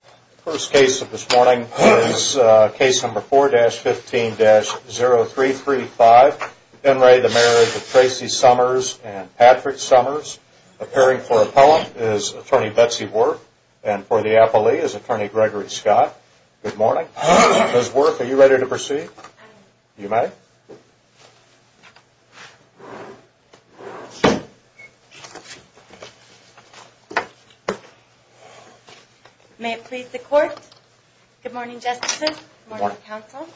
The first case of this morning is case number 4-15-0335, Henry the marriage of Tracy Somers and Patrick Somers, appearing for appellant is attorney Betsy Wurf and for the appellee is attorney Gregory Scott. Good morning. Ms. Wurf, are you ready to proceed? You may. May it please the court, good morning justices, good morning counsel,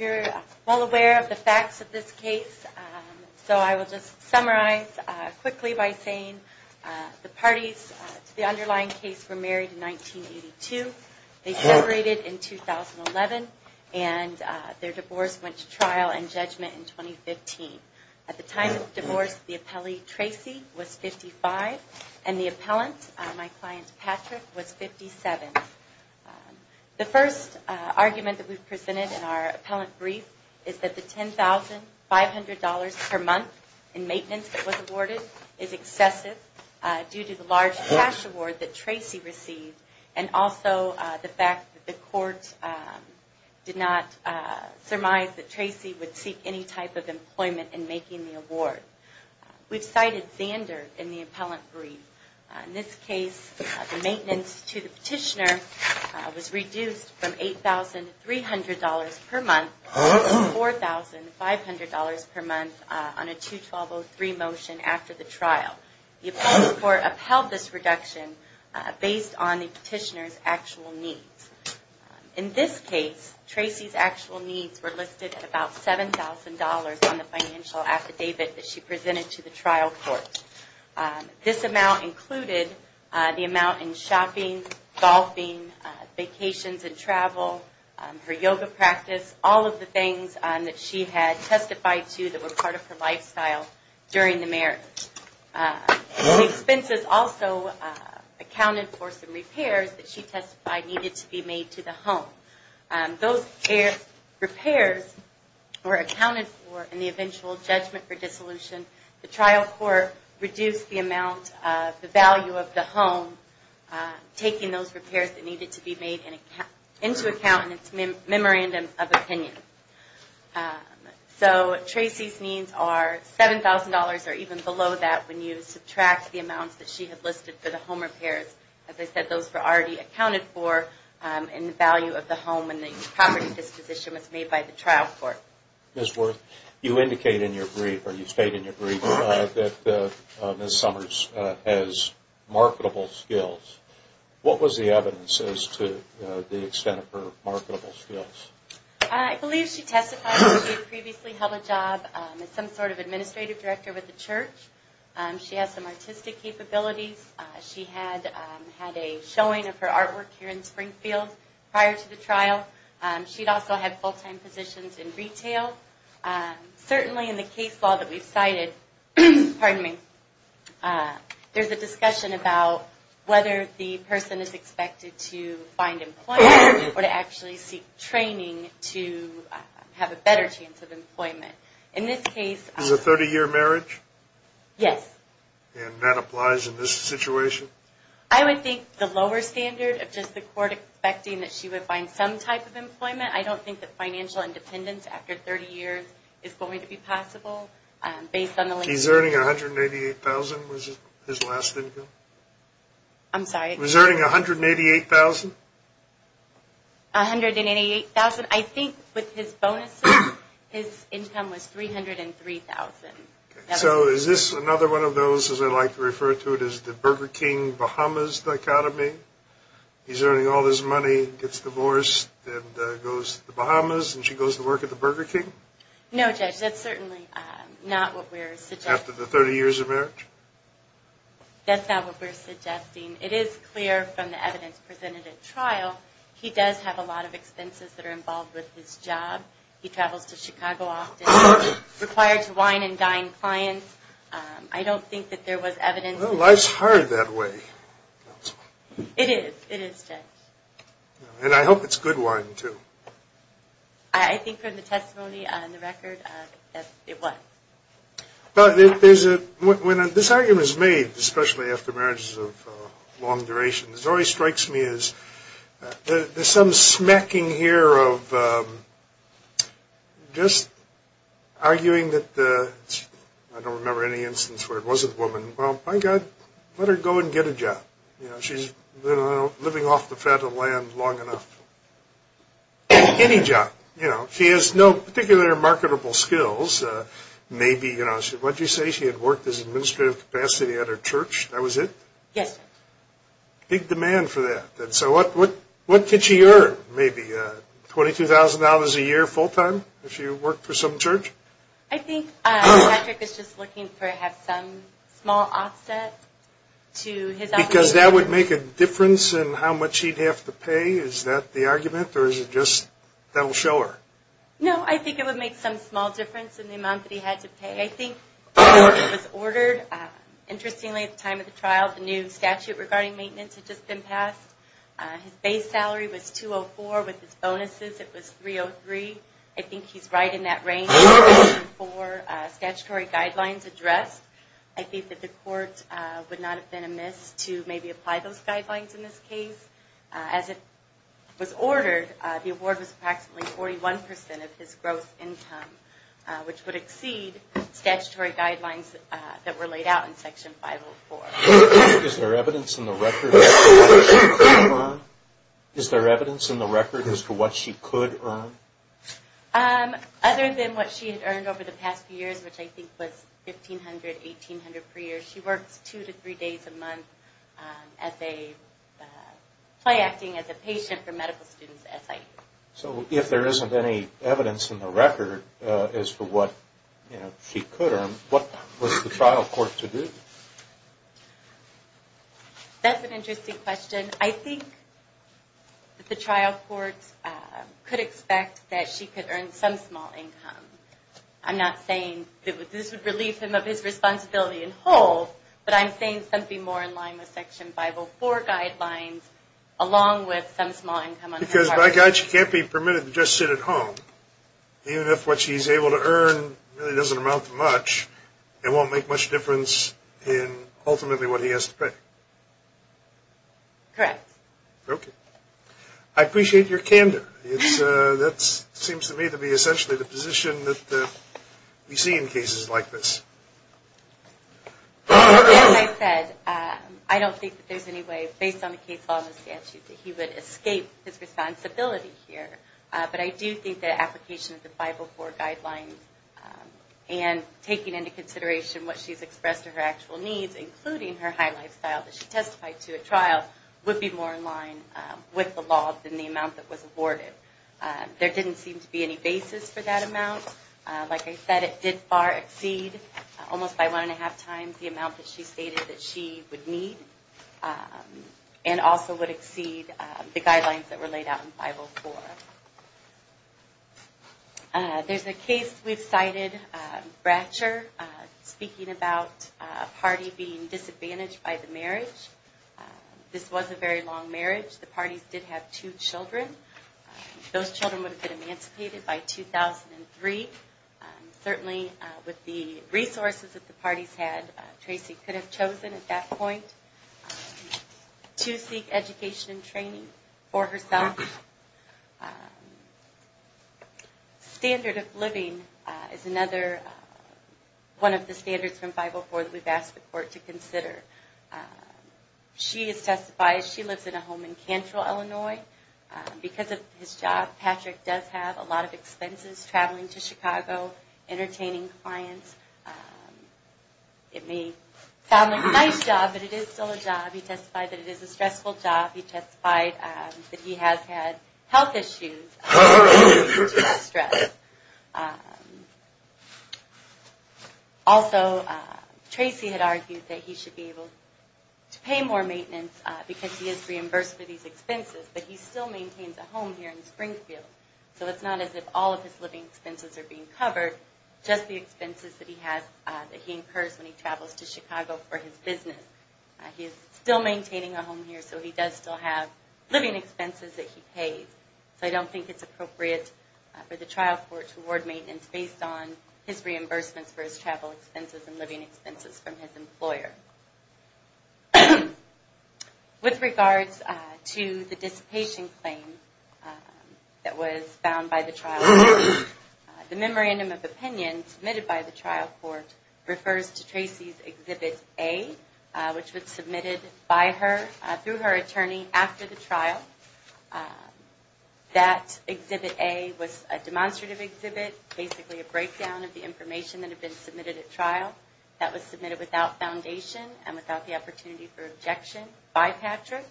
you're all aware of the facts of this case, so I will just summarize quickly by saying the parties to the underlying case were married in 1982, they separated in 2011 and their divorce went to trial and judgment in 2015. At the time of the divorce, the appellee Tracy was 55 and the appellant, my client Patrick, was 57. The first argument that we presented in our appellant brief is that the $10,500 per month in maintenance that was awarded is excessive due to the large cash award that Tracy received and also the fact that the court did not surmise that Tracy would seek any type of employment in making the award. We've cited standard in the appellant brief. In this case, the maintenance to the petitioner was reduced from $8,300 per month to $4,500 per month on a 2-12-03 motion after the trial. The appellate court upheld this reduction based on the petitioner's actual needs. In this case, Tracy's actual needs were listed at about $7,000 on the financial affidavit that she presented to the trial court. This amount included the amount in shopping, golfing, vacations and travel, her yoga practice, all of the things that she had testified to that were part of her lifestyle during the marriage. The expenses also accounted for some repairs that she testified needed to be made to the home. Those repairs were accounted for in the eventual judgment for dissolution. The trial court reduced the amount of the value of the home, taking those repairs that Tracy's needs are $7,000 or even below that when you subtract the amounts that she had listed for the home repairs. As I said, those were already accounted for in the value of the home when the property disposition was made by the trial court. Ms. Worth, you indicate in your brief or you state in your brief that Ms. Summers has marketable skills. What was the evidence as to the extent of her marketable skills? I believe she testified that she had previously held a job as some sort of administrative director with the church. She has some artistic capabilities. She had a showing of her artwork here in Springfield prior to the trial. She'd also had full-time positions in retail. Certainly in the case law that we've cited, there's a discussion about whether the person is expected to find employment or to actually seek training to have a better chance of employment. Is it a 30-year marriage? Yes. And that applies in this situation? I would think the lower standard of just the court expecting that she would find some type of employment. I don't think that financial independence after 30 years is going to be possible. He's earning $188,000. Was it his last income? I'm sorry? He was earning $188,000? $188,000. I think with his bonuses, his income was $303,000. So is this another one of those, as I like to refer to it, is the Burger King Bahamas dichotomy? He's earning all this money, gets divorced, and goes to the Bahamas, and she goes to work at the Burger King? No, Judge, that's certainly not what we're suggesting. After the 30 years of marriage? That's not what we're suggesting. It is clear from the evidence presented at trial, he does have a lot of expenses that are involved with his job. He travels to Chicago often. He's required to wine and dine clients. I don't think that there was evidence. Well, life's hard that way. It is. It is, Judge. And I hope it's good wine, too. I think from the testimony on the record, it was. But there's a – when this argument is made, especially after marriages of long duration, it always strikes me as there's some smacking here of just arguing that the – I don't remember any instance where it wasn't a woman. Well, by God, let her go and get a job. She's been living off the fat of land long enough. Any job. She has no particular marketable skills. Maybe – what did you say? She had worked as an administrative capacity at her church. That was it? Yes, Judge. Big demand for that. So what did she earn? Maybe $22,000 a year full-time if she worked for some church? I think Patrick is just looking for perhaps some small offset to his obligation. Because that would make a difference in how much he'd have to pay? Is that the argument, or is it just that will show her? No, I think it would make some small difference in the amount that he had to pay. I think the order was ordered. Interestingly, at the time of the trial, the new statute regarding maintenance had just been passed. His base salary was $204,000. With his bonuses, it was $303,000. I think he's right in that range. With Section 504 statutory guidelines addressed, I think that the court would not have been amiss to maybe apply those guidelines in this case. As it was ordered, the award was approximately 41 percent of his gross income, which would exceed statutory guidelines that were laid out in Section 504. Is there evidence in the record as to what she could earn? Other than what she had earned over the past few years, which I think was $1,500, $1,800 per year, she works two to three days a month as a patient for medical students at SIU. So if there isn't any evidence in the record as to what she could earn, what was the trial court to do? That's an interesting question. I think that the trial court could expect that she could earn some small income. I'm not saying that this would relieve him of his responsibility in whole, but I'm saying something more in line with Section 504 guidelines along with some small income. Because by God, she can't be permitted to just sit at home. Even if what she's able to earn really doesn't amount to much, it won't make much difference in ultimately what he has to pay. Correct. Okay. I appreciate your candor. That seems to me to be essentially the position that we see in cases like this. As I said, I don't think that there's any way, based on the case law and the statute, that he would escape his responsibility here. But I do think that application of the 504 guidelines and taking into consideration what she's expressed to her actual needs, including her high lifestyle that she testified to at trial, would be more in line with the law than the amount that was awarded. There didn't seem to be any basis for that amount. Like I said, it did far exceed, almost by one and a half times, the amount that she stated that she would need and also would exceed the guidelines that were laid out in 504. There's a case we've cited, Bratcher, speaking about a party being disadvantaged by the marriage. This was a very long marriage. The parties did have two children. Those children would have been emancipated by 2003. Certainly with the resources that the parties had, Tracy could have chosen at that point to seek education and training for herself. Standard of living is another one of the standards from 504 that we've asked the court to consider. She has testified, she lives in a home in Cantrell, Illinois. Because of his job, Patrick does have a lot of expenses, traveling to Chicago, entertaining clients. It may sound like a nice job, but it is still a job. He testified that it is a stressful job. He testified that he has had health issues due to stress. Also, Tracy had argued that he should be able to pay more maintenance because he is reimbursed for these expenses, but he still maintains a home here in Springfield. So it's not as if all of his living expenses are being covered, just the expenses that he incurs when he travels to Chicago for his business. He is still maintaining a home here, so he does still have living expenses that he pays. So I don't think it's appropriate for the trial court to award maintenance based on his reimbursements for his travel expenses and living expenses from his employer. With regards to the dissipation claim that was found by the trial court, the memorandum of opinion submitted by the trial court refers to Tracy's Exhibit A, which was submitted by her, through her attorney, after the trial. That Exhibit A was a demonstrative exhibit, basically a breakdown of the information that had been submitted at trial. That was submitted without foundation and without the opportunity for objection by Patrick.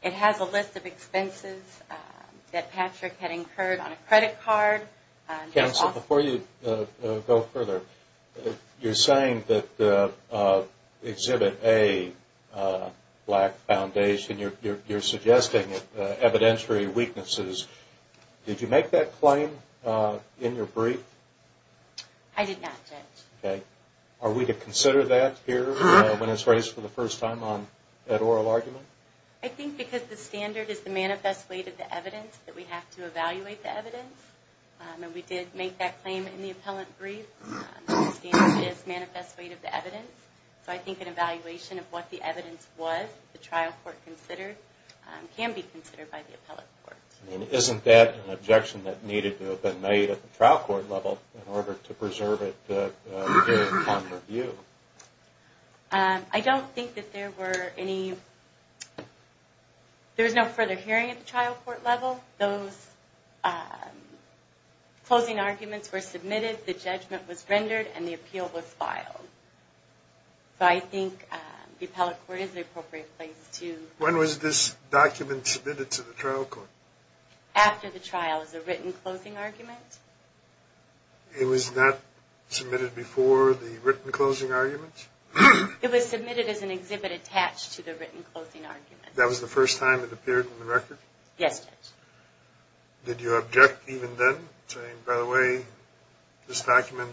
It has a list of expenses that Patrick had incurred on a credit card. Counsel, before you go further, you're saying that Exhibit A lacked foundation. You're suggesting evidentiary weaknesses. Did you make that claim in your brief? I did not, Judge. Are we to consider that here when it's raised for the first time at oral argument? I think because the standard is the manifest weight of the evidence, that we have to evaluate the evidence. We did make that claim in the appellate brief. The standard is the manifest weight of the evidence. So I think an evaluation of what the evidence was the trial court considered can be considered by the appellate court. Isn't that an objection that needed to have been made at the trial court level in order to preserve it during common review? I don't think that there were any... There was no further hearing at the trial court level. Those closing arguments were submitted, the judgment was rendered, and the appeal was filed. So I think the appellate court is the appropriate place to... When was this document submitted to the trial court? After the trial as a written closing argument. It was not submitted before the written closing argument? It was submitted as an exhibit attached to the written closing argument. That was the first time it appeared in the record? Yes, Judge. Did you object even then, saying, by the way, this document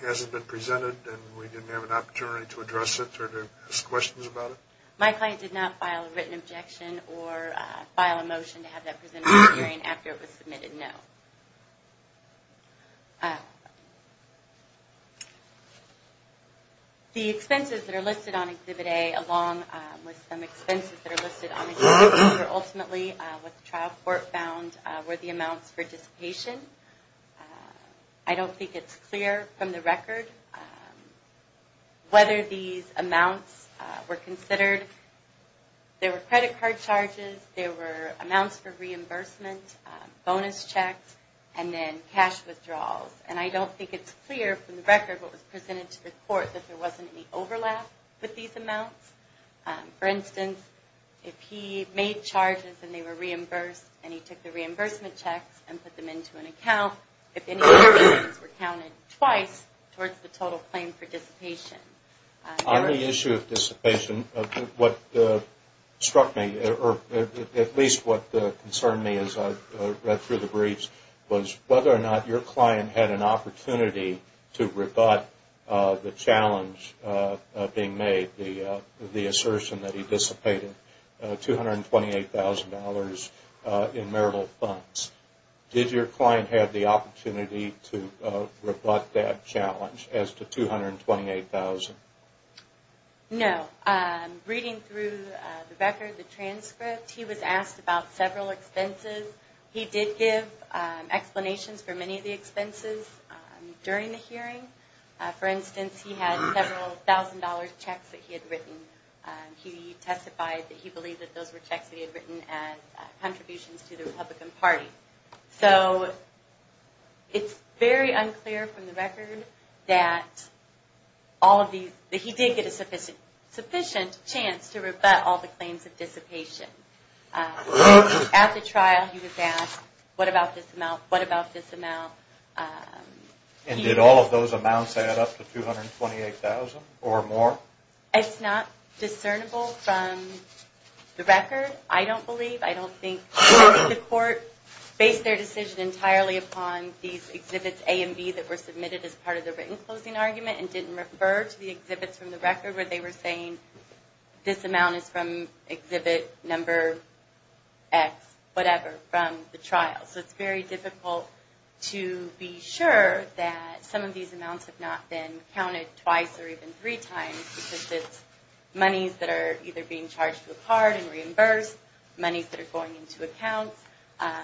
hasn't been presented and we didn't have an opportunity to address it or to ask questions about it? My client did not file a written objection or file a motion to have that presented at the hearing after it was submitted, no. The expenses that are listed on exhibit A, along with some expenses that are listed on exhibit B, were ultimately what the trial court found were the amounts for dissipation. I don't think it's clear from the record whether these amounts were considered. There were credit card charges, there were amounts for reimbursement, bonus checks, and then cash withdrawals. And I don't think it's clear from the record what was presented to the court that there wasn't any overlap with these amounts. For instance, if he made charges and they were reimbursed and he took the reimbursement checks and put them into an account, if any other expenses were counted twice towards the total claim for dissipation. On the issue of dissipation, what struck me, or at least what concerned me as I read through the briefs, was whether or not your client had an opportunity to rebut the challenge being made, the assertion that he dissipated $228,000 in marital funds. Did your client have the opportunity to rebut that challenge as to $228,000? No. Reading through the record, the transcript, he was asked about several expenses. He did give explanations for many of the expenses during the hearing. For instance, he had several $1,000 checks that he had written. He testified that he believed that those were checks that he had written as contributions to the Republican Party. So it's very unclear from the record that he did get a sufficient chance to rebut all the claims of dissipation. At the trial, he was asked, what about this amount, what about this amount? And did all of those amounts add up to $228,000 or more? It's not discernible from the record. I don't believe, I don't think the court based their decision entirely upon these exhibits A and B that were submitted as part of the written closing argument and didn't refer to the exhibits from the record where they were saying this amount is from exhibit number X, whatever, from the trial. So it's very difficult to be sure that some of these amounts have not been counted twice or even three times because it's monies that are either being charged to a card and reimbursed, monies that are going into accounts.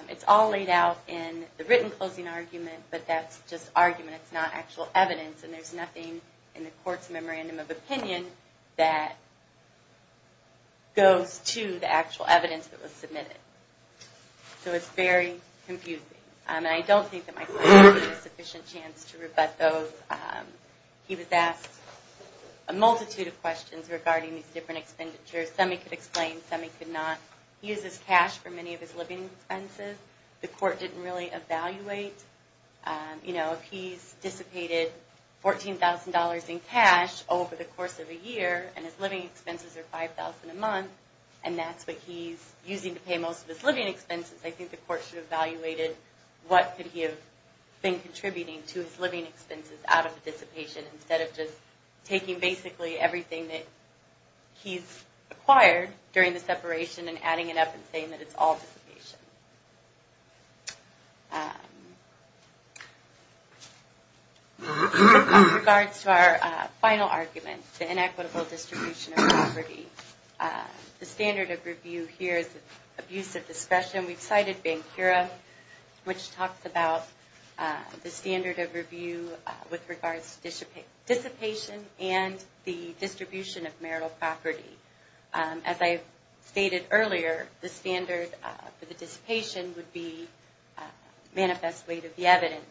It's all laid out in the written closing argument, but that's just argument. It's not actual evidence, and there's nothing in the court's memorandum of opinion that goes to the actual evidence that was submitted. So it's very confusing. And I don't think that my client had a sufficient chance to rebut those. He was asked a multitude of questions regarding these different expenditures. Some he could explain, some he could not. He uses cash for many of his living expenses. The court didn't really evaluate. If he's dissipated $14,000 in cash over the course of a year and his living expenses are $5,000 a month, and that's what he's using to pay most of his living expenses, I think the court should have evaluated what could he have been contributing to his living expenses out of the dissipation instead of just taking basically everything that he's acquired during the separation and adding it up and saying that it's all dissipation. With regards to our final argument, the inequitable distribution of property, the standard of review here is abuse of discretion. We've cited Bankura, which talks about the standard of review with regards to dissipation and the distribution of marital property. As I stated earlier, the standard for the dissipation would be manifest weight of the evidence.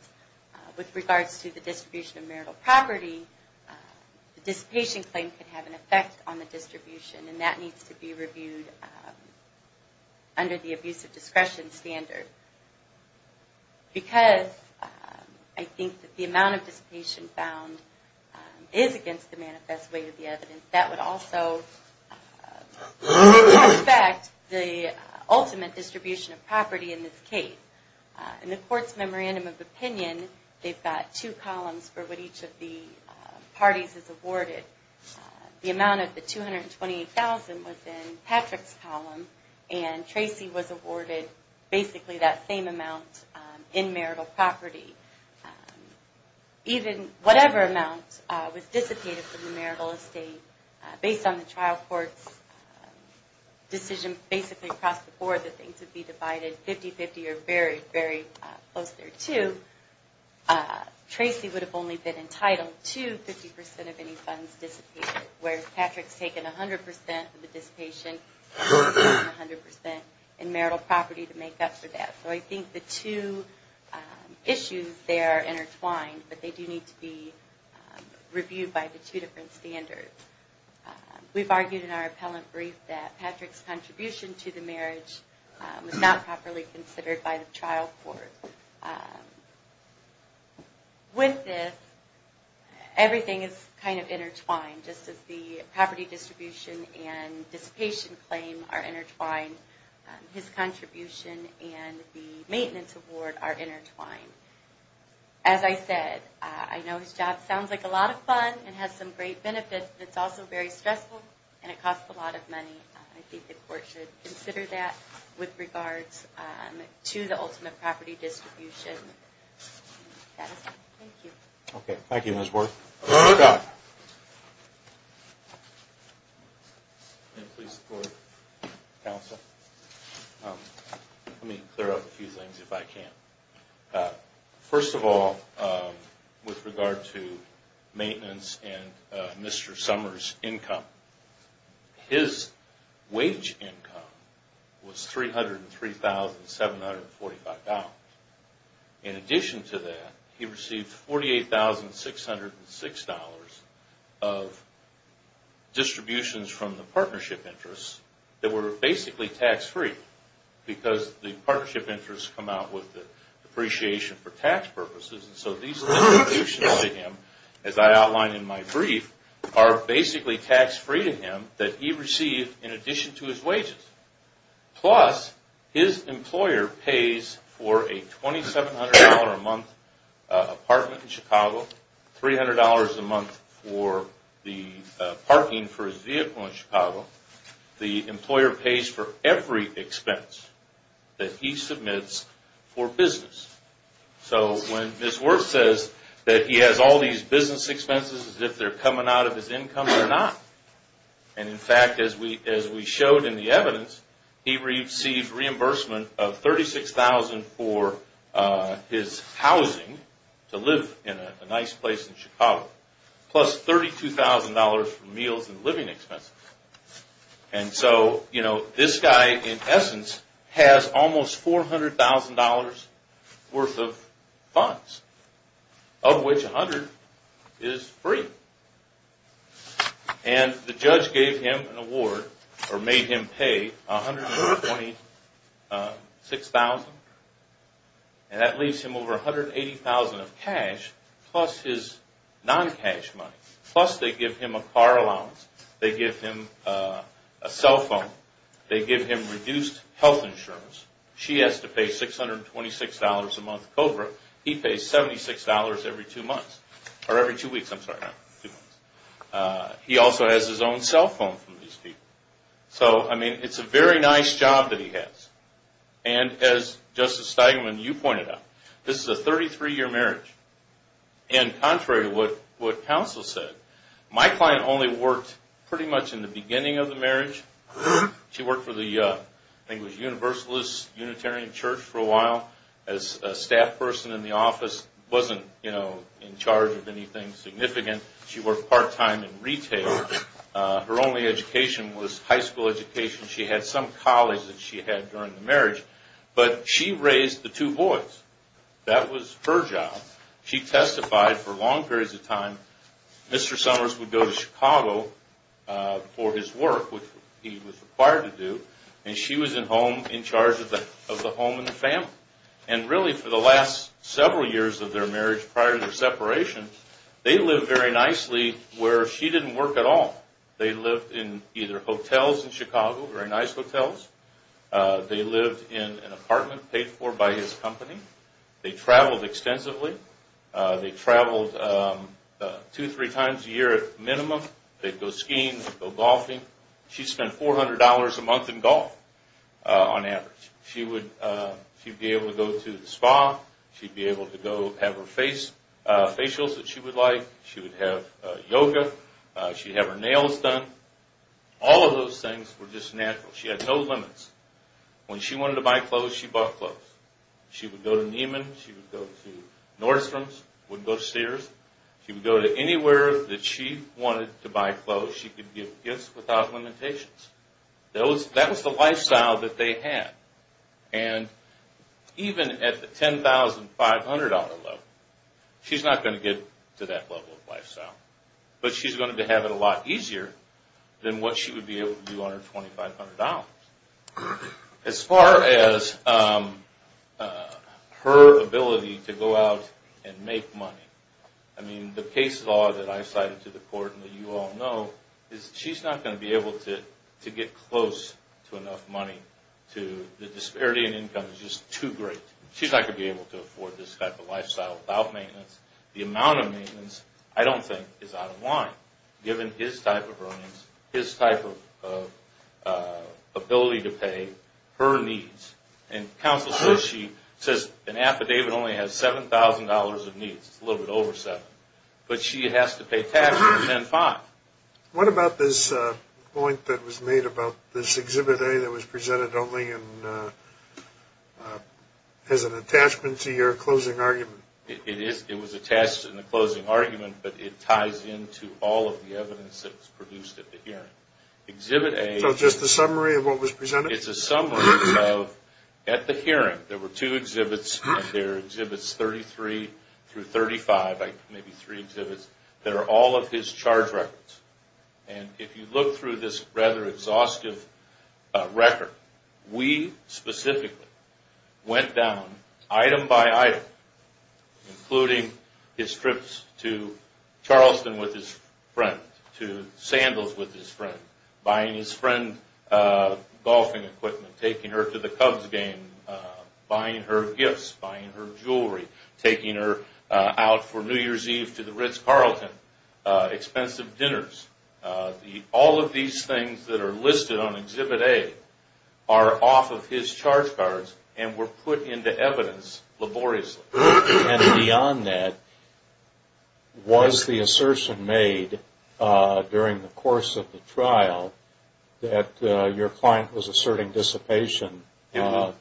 With regards to the distribution of marital property, the dissipation claim could have an effect on the distribution, and that needs to be reviewed under the abuse of discretion standard. Because I think that the amount of dissipation found is against the manifest weight of the evidence, that would also affect the ultimate distribution of property in this case. In the court's memorandum of opinion, they've got two columns for what each of the parties is awarded. The amount of the $228,000 was in Patrick's column, and Tracy was awarded basically that same amount in marital property. Even whatever amount was dissipated from the marital estate, based on the trial court's decision basically across the board that things would be divided 50-50 or very, very close there too, Tracy would have only been entitled to 50% of any funds dissipated, whereas Patrick's taken 100% of the dissipation and 100% in marital property to make up for that. So I think the two issues there are intertwined, but they do need to be reviewed by the two different standards. We've argued in our appellant brief that Patrick's contribution to the marriage was not properly considered by the trial court. With this, everything is kind of intertwined, just as the property distribution and dissipation claim are intertwined, his contribution and the maintenance award are intertwined. As I said, I know his job sounds like a lot of fun and has some great benefits, but it's also very stressful and it costs a lot of money. I think the court should consider that with regards to the ultimate property distribution. That is all. Thank you. Okay. Thank you, Ms. Worth. Mr. Dodd. Can I please support the counsel? Let me clear up a few things if I can. First of all, with regard to maintenance and Mr. Summers' income, his wage income was $303,745. In addition to that, he received $48,606 of distributions from the partnership interests that were basically tax-free because the partnership interests come out with the depreciation for tax purposes. So these distributions to him, as I outlined in my brief, are basically tax-free to him that he received in addition to his wages. Plus, his employer pays for a $2,700 a month apartment in Chicago, $300 a month for the parking for his vehicle in Chicago. The employer pays for every expense that he submits for business. So when Ms. Worth says that he has all these business expenses as if they're coming out of his income, they're not. In fact, as we showed in the evidence, he received reimbursement of $36,000 for his housing, to live in a nice place in Chicago, plus $32,000 for meals and living expenses. So this guy, in essence, has almost $400,000 worth of funds, of which $100,000 is free. And the judge gave him an award, or made him pay $126,000, and that leaves him over $180,000 of cash plus his non-cash money. Plus, they give him a car allowance. They give him a cell phone. They give him reduced health insurance. She has to pay $626 a month cover. He pays $76 every two weeks. He also has his own cell phone from these people. So, I mean, it's a very nice job that he has. And as Justice Steigman, you pointed out, this is a 33-year marriage. And contrary to what counsel said, my client only worked pretty much in the beginning of the marriage. She worked for the Universalist Unitarian Church for a while as a staff person in the office. Wasn't, you know, in charge of anything significant. She worked part-time in retail. Her only education was high school education. She had some colleagues that she had during the marriage. But she raised the two boys. That was her job. She testified for long periods of time. Mr. Summers would go to Chicago for his work, which he was required to do, and she was in charge of the home and the family. And really, for the last several years of their marriage prior to their separation, they lived very nicely where she didn't work at all. They lived in either hotels in Chicago, very nice hotels. They lived in an apartment paid for by his company. They traveled extensively. They traveled two, three times a year at minimum. They'd go skiing. They'd go golfing. She'd spend $400 a month in golf on average. She'd be able to go to the spa. She'd be able to go have her facials that she would like. She would have yoga. She'd have her nails done. All of those things were just natural. She had no limits. When she wanted to buy clothes, she bought clothes. She would go to Neiman. She would go to Nordstrom's. She wouldn't go to Sears. She would go to anywhere that she wanted to buy clothes. She could give gifts without limitations. That was the lifestyle that they had. Even at the $10,500 level, she's not going to get to that level of lifestyle. But she's going to have it a lot easier than what she would be able to do on her $2,500. As far as her ability to go out and make money, the case law that I cited to the court and that you all know, is she's not going to be able to get close to enough money. The disparity in income is just too great. She's not going to be able to afford this type of lifestyle without maintenance. The amount of maintenance, I don't think, is out of line, given his type of earnings, his type of ability to pay, her needs. And counsel says she says an affidavit only has $7,000 of needs. It's a little bit over $7,000. But she has to pay tax for $10,500. What about this point that was made about this Exhibit A that was presented only as an attachment to your closing argument? It was attached in the closing argument, but it ties into all of the evidence that was produced at the hearing. So just a summary of what was presented? It's a summary of, at the hearing, there were two exhibits, and there are Exhibits 33 through 35, maybe three exhibits, that are all of his charge records. And if you look through this rather exhaustive record, we specifically went down item by item, including his trips to Charleston with his friend, to sandals with his friend, buying his friend golfing equipment, taking her to the Cubs game, buying her gifts, buying her jewelry, taking her out for New Year's Eve to the Ritz-Carlton, expensive dinners. All of these things that are listed on Exhibit A are off of his charge cards and were put into evidence laboriously. And beyond that, was the assertion made during the course of the trial that your client was asserting dissipation for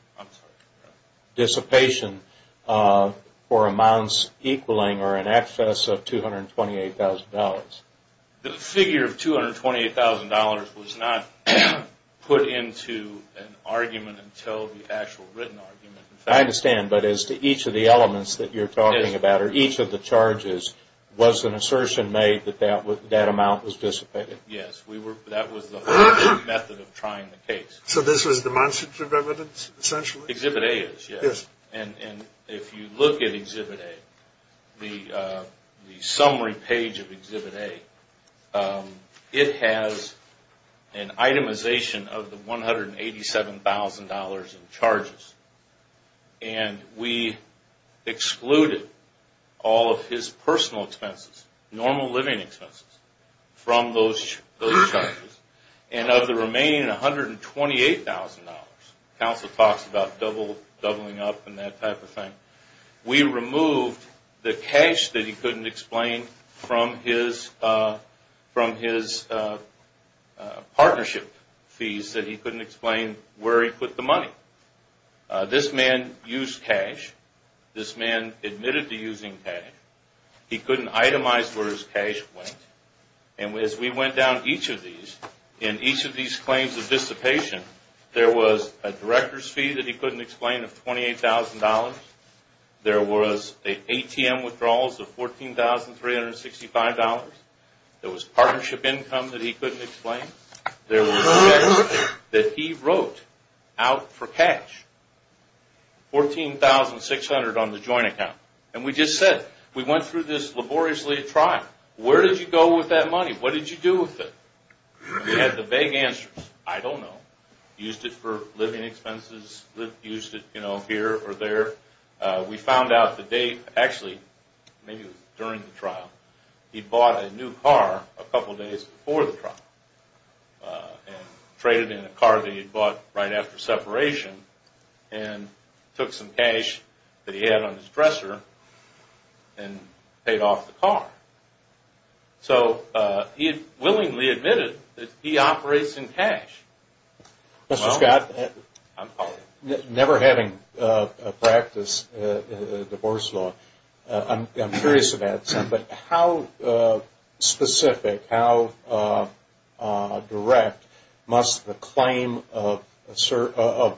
amounts equaling or in excess of $228,000? The figure of $228,000 was not put into an argument until the actual written argument. I understand, but as to each of the elements that you're talking about or each of the charges, was an assertion made that that amount was dissipated? Yes, that was the method of trying the case. So this was demonstrative evidence, essentially? Exhibit A is, yes. And if you look at Exhibit A, the summary page of Exhibit A, it has an itemization of the $187,000 in charges. And we excluded all of his personal expenses, normal living expenses, from those charges. And of the remaining $128,000, counsel talks about doubling up and that type of thing, we removed the cash that he couldn't explain from his partnership fees that he couldn't explain where he put the money. This man used cash. This man admitted to using cash. He couldn't itemize where his cash went. And as we went down each of these, in each of these claims of dissipation, there was a director's fee that he couldn't explain of $28,000. There was ATM withdrawals of $14,365. There was partnership income that he couldn't explain. There was checks that he wrote out for cash, $14,600 on the joint account. And we just said, we went through this laboriously trial. Where did you go with that money? What did you do with it? He had the vague answers. I don't know. Used it for living expenses. Used it here or there. We found out the date. Actually, maybe it was during the trial. He bought a new car a couple days before the trial and traded in a car that he bought right after separation and took some cash that he had on his dresser and paid off the car. So he had willingly admitted that he operates in cash. Mr. Scott, never having practiced divorce law, I'm curious about something. How specific, how direct must the claim of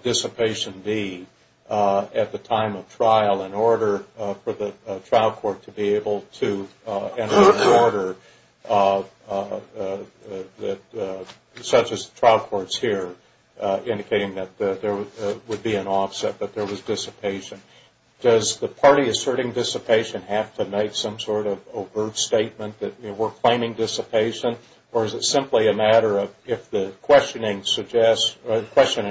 dissipation be at the time of trial in order for the trial court to be able to enter into order such as the trial courts here, indicating that there would be an offset but there was dissipation? Does the party asserting dissipation have to make some sort of overt statement that we're claiming dissipation? Or is it simply a matter of if the question and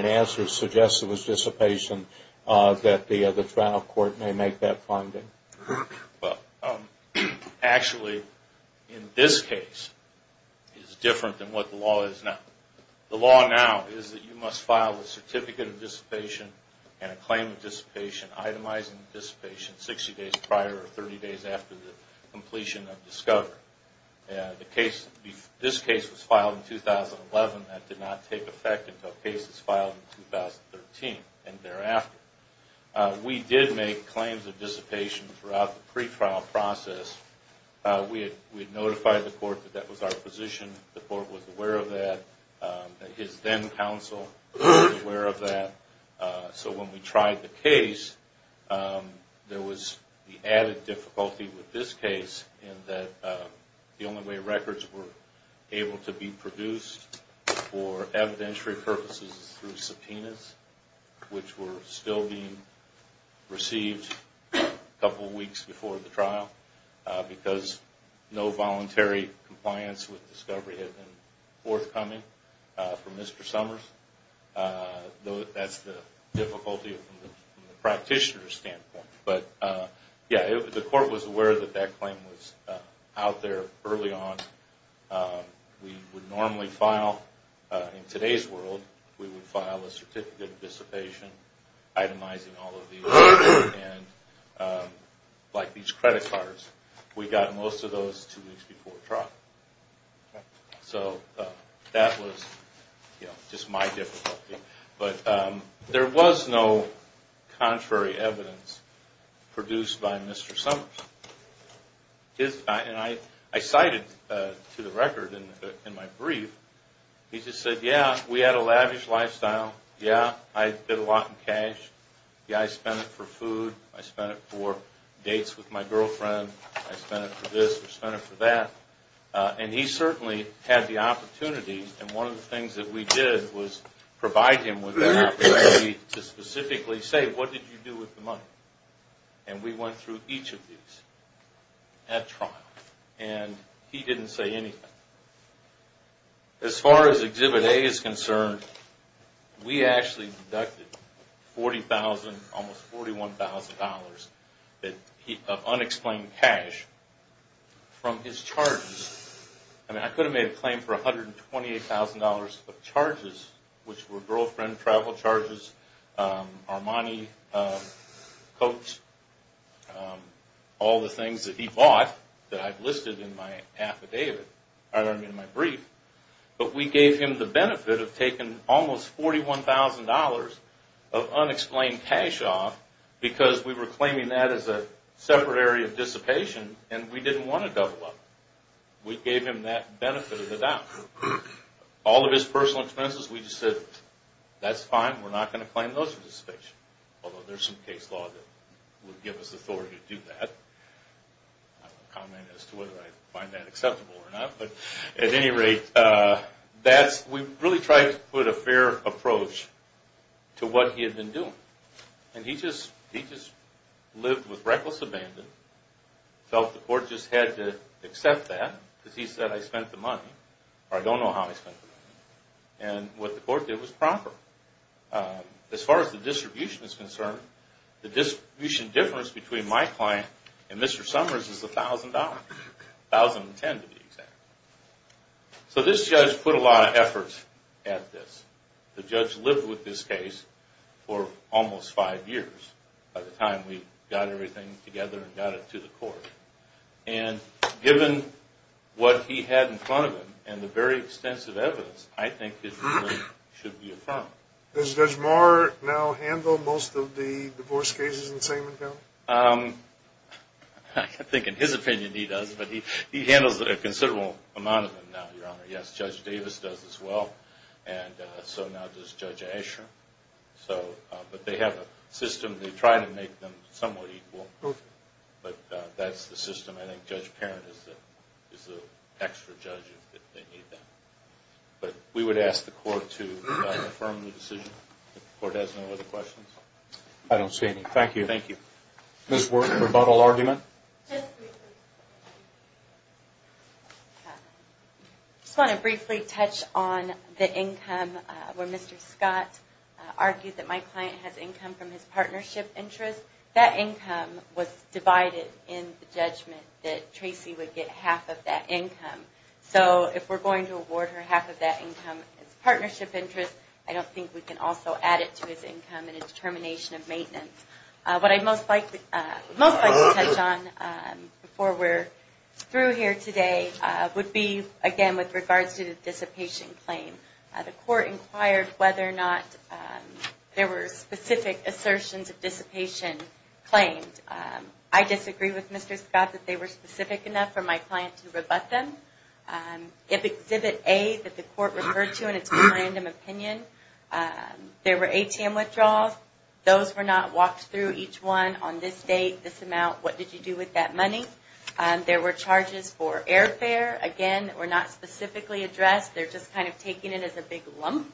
answer suggests it was dissipation, that the trial court may make that finding? Actually, in this case, it's different than what the law is now. The law now is that you must file a certificate of dissipation and a claim of dissipation itemizing the dissipation 60 days prior or 30 days after the completion of discovery. This case was filed in 2011. That did not take effect until cases filed in 2013 and thereafter. We did make claims of dissipation throughout the pre-trial process. We had notified the court that that was our position. The court was aware of that. His then counsel was aware of that. So when we tried the case, there was the added difficulty with this case in that the only way records were able to be produced for evidentiary purposes was through subpoenas, which were still being received a couple of weeks before the trial because no voluntary compliance with discovery had been forthcoming from Mr. Summers. That's the difficulty from the practitioner's standpoint. The court was aware that that claim was out there early on. We would normally file, in today's world, we would file a certificate of dissipation itemizing all of these, like these credit cards. We got most of those two weeks before trial. So that was just my difficulty. There was no contrary evidence produced by Mr. Summers. I cited to the record in my brief, he just said, yeah, we had a lavish lifestyle. Yeah, I did a lot in cash. Yeah, I spent it for food. I spent it for dates with my girlfriend. I spent it for this. I spent it for that. He certainly had the opportunity. And one of the things that we did was provide him with an opportunity to specifically say, what did you do with the money? And we went through each of these at trial. And he didn't say anything. As far as Exhibit A is concerned, we actually deducted $40,000, almost $41,000 of unexplained cash from his charges. I mean, I could have made a claim for $128,000 of charges, which were girlfriend travel charges, Armani coats, all the things that he bought that I've listed in my brief. But we gave him the benefit of taking almost $41,000 of unexplained cash off because we were claiming that as a separate area of dissipation and we didn't want to double up. We gave him that benefit of the doubt. All of his personal expenses, we just said, that's fine. We're not going to claim those for dissipation, although there's some case law that would give us authority to do that. I don't have a comment as to whether I find that acceptable or not. But at any rate, we really tried to put a fair approach to what he had been doing. And he just lived with reckless abandon, felt the court just had to accept that because he said, I spent the money, or I don't know how I spent the money. And what the court did was proper. As far as the distribution is concerned, the distribution difference between my client and Mr. Summers is $1,000, $1,010 to be exact. So this judge put a lot of effort at this. The judge lived with this case for almost five years by the time we got everything together and got it to the court. And given what he had in front of him and the very extensive evidence, I think his ruling should be affirmed. Does Judge Maher now handle most of the divorce cases in Salem County? I think in his opinion he does, but he handles a considerable amount of them now, Your Honor. Yes, Judge Davis does as well. And so now does Judge Asher. But they have a system. They try to make them somewhat equal. But that's the system. I think Judge Parent is the extra judge if they need that. But we would ask the court to affirm the decision. If the court has no other questions. I don't see any. Thank you. Thank you. Ms. Work, rebuttal argument? Just briefly. I just want to briefly touch on the income where Mr. Scott argued that my client has income from his partnership interest. That income was divided in the judgment that Tracy would get half of that income. So if we're going to award her half of that income as partnership interest, I don't think we can also add it to his income in a determination of maintenance. What I'd most like to touch on before we're through here today would be, again, with regards to the dissipation claim. The court inquired whether or not there were specific assertions of dissipation claimed. I disagree with Mr. Scott that they were specific enough for my client to rebut them. If Exhibit A that the court referred to in its random opinion, there were ATM withdrawals. Those were not walked through each one on this date, this amount, what did you do with that money. There were charges for airfare, again, that were not specifically addressed. They're just kind of taking it as a big lump.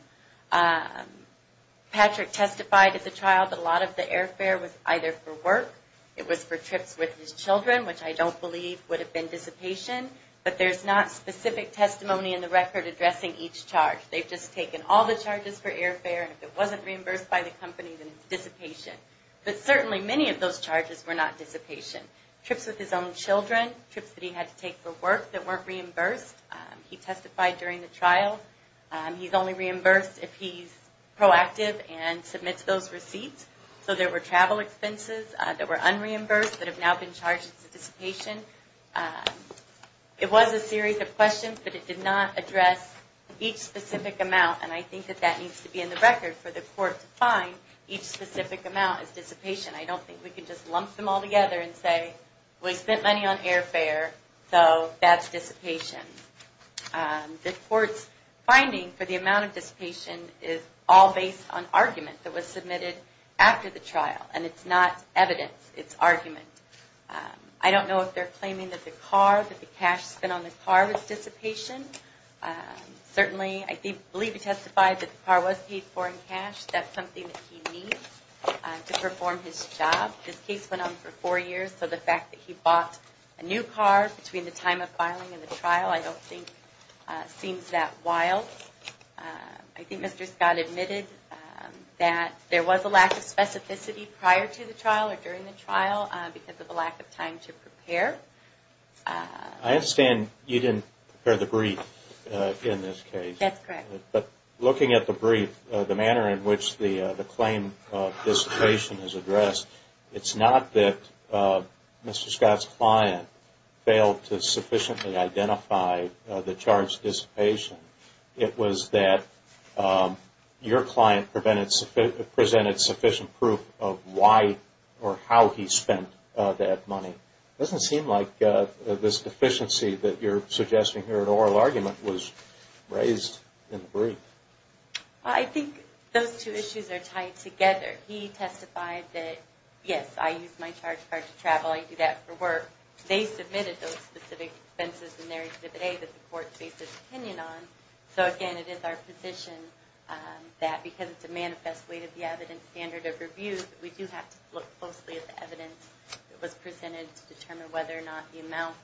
Patrick testified at the trial that a lot of the airfare was either for work, it was for trips with his children, which I don't believe would have been dissipation. But there's not specific testimony in the record addressing each charge. They've just taken all the charges for airfare. And if it wasn't reimbursed by the company, then it's dissipation. But certainly many of those charges were not dissipation. Trips with his own children, trips that he had to take for work that weren't reimbursed. He testified during the trial. He's only reimbursed if he's proactive and submits those receipts. So there were travel expenses that were unreimbursed that have now been charged as dissipation. It was a series of questions, but it did not address each specific amount. And I think that that needs to be in the record for the court to find each specific amount is dissipation. I don't think we can just lump them all together and say, we spent money on airfare, so that's dissipation. The court's finding for the amount of dissipation is all based on argument that was submitted after the trial. And it's not evidence, it's argument. I don't know if they're claiming that the car, that the cash spent on the car was dissipation. Certainly, I believe he testified that the car was paid for in cash. That's something that he needs to perform his job. His case went on for four years, so the fact that he bought a new car between the time of filing and the trial, I don't think seems that wild. I think Mr. Scott admitted that there was a lack of specificity prior to the trial or during the trial because of the lack of time to prepare. I understand you didn't prepare the brief in this case. That's correct. But looking at the brief, the manner in which the claim of dissipation is addressed, it's not that Mr. Scott's client failed to sufficiently identify the charge of dissipation. It was that your client presented sufficient proof of why or how he spent that money. It doesn't seem like this deficiency that you're suggesting here, an oral argument, was raised in the brief. I think those two issues are tied together. He testified that, yes, I use my charge card to travel. I do that for work. They submitted those specific expenses in their exhibit A that the court faced its opinion on. So, again, it is our position that because it's a manifest way to the evidence standard of review, we do have to look closely at the evidence that was presented to determine whether or not the amount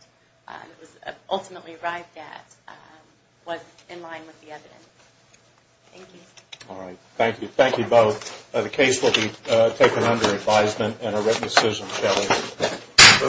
that was ultimately arrived at was in line with the evidence. Thank you. All right. Thank you. Thank you both. The case will be taken under advisement and a written decision, shall we?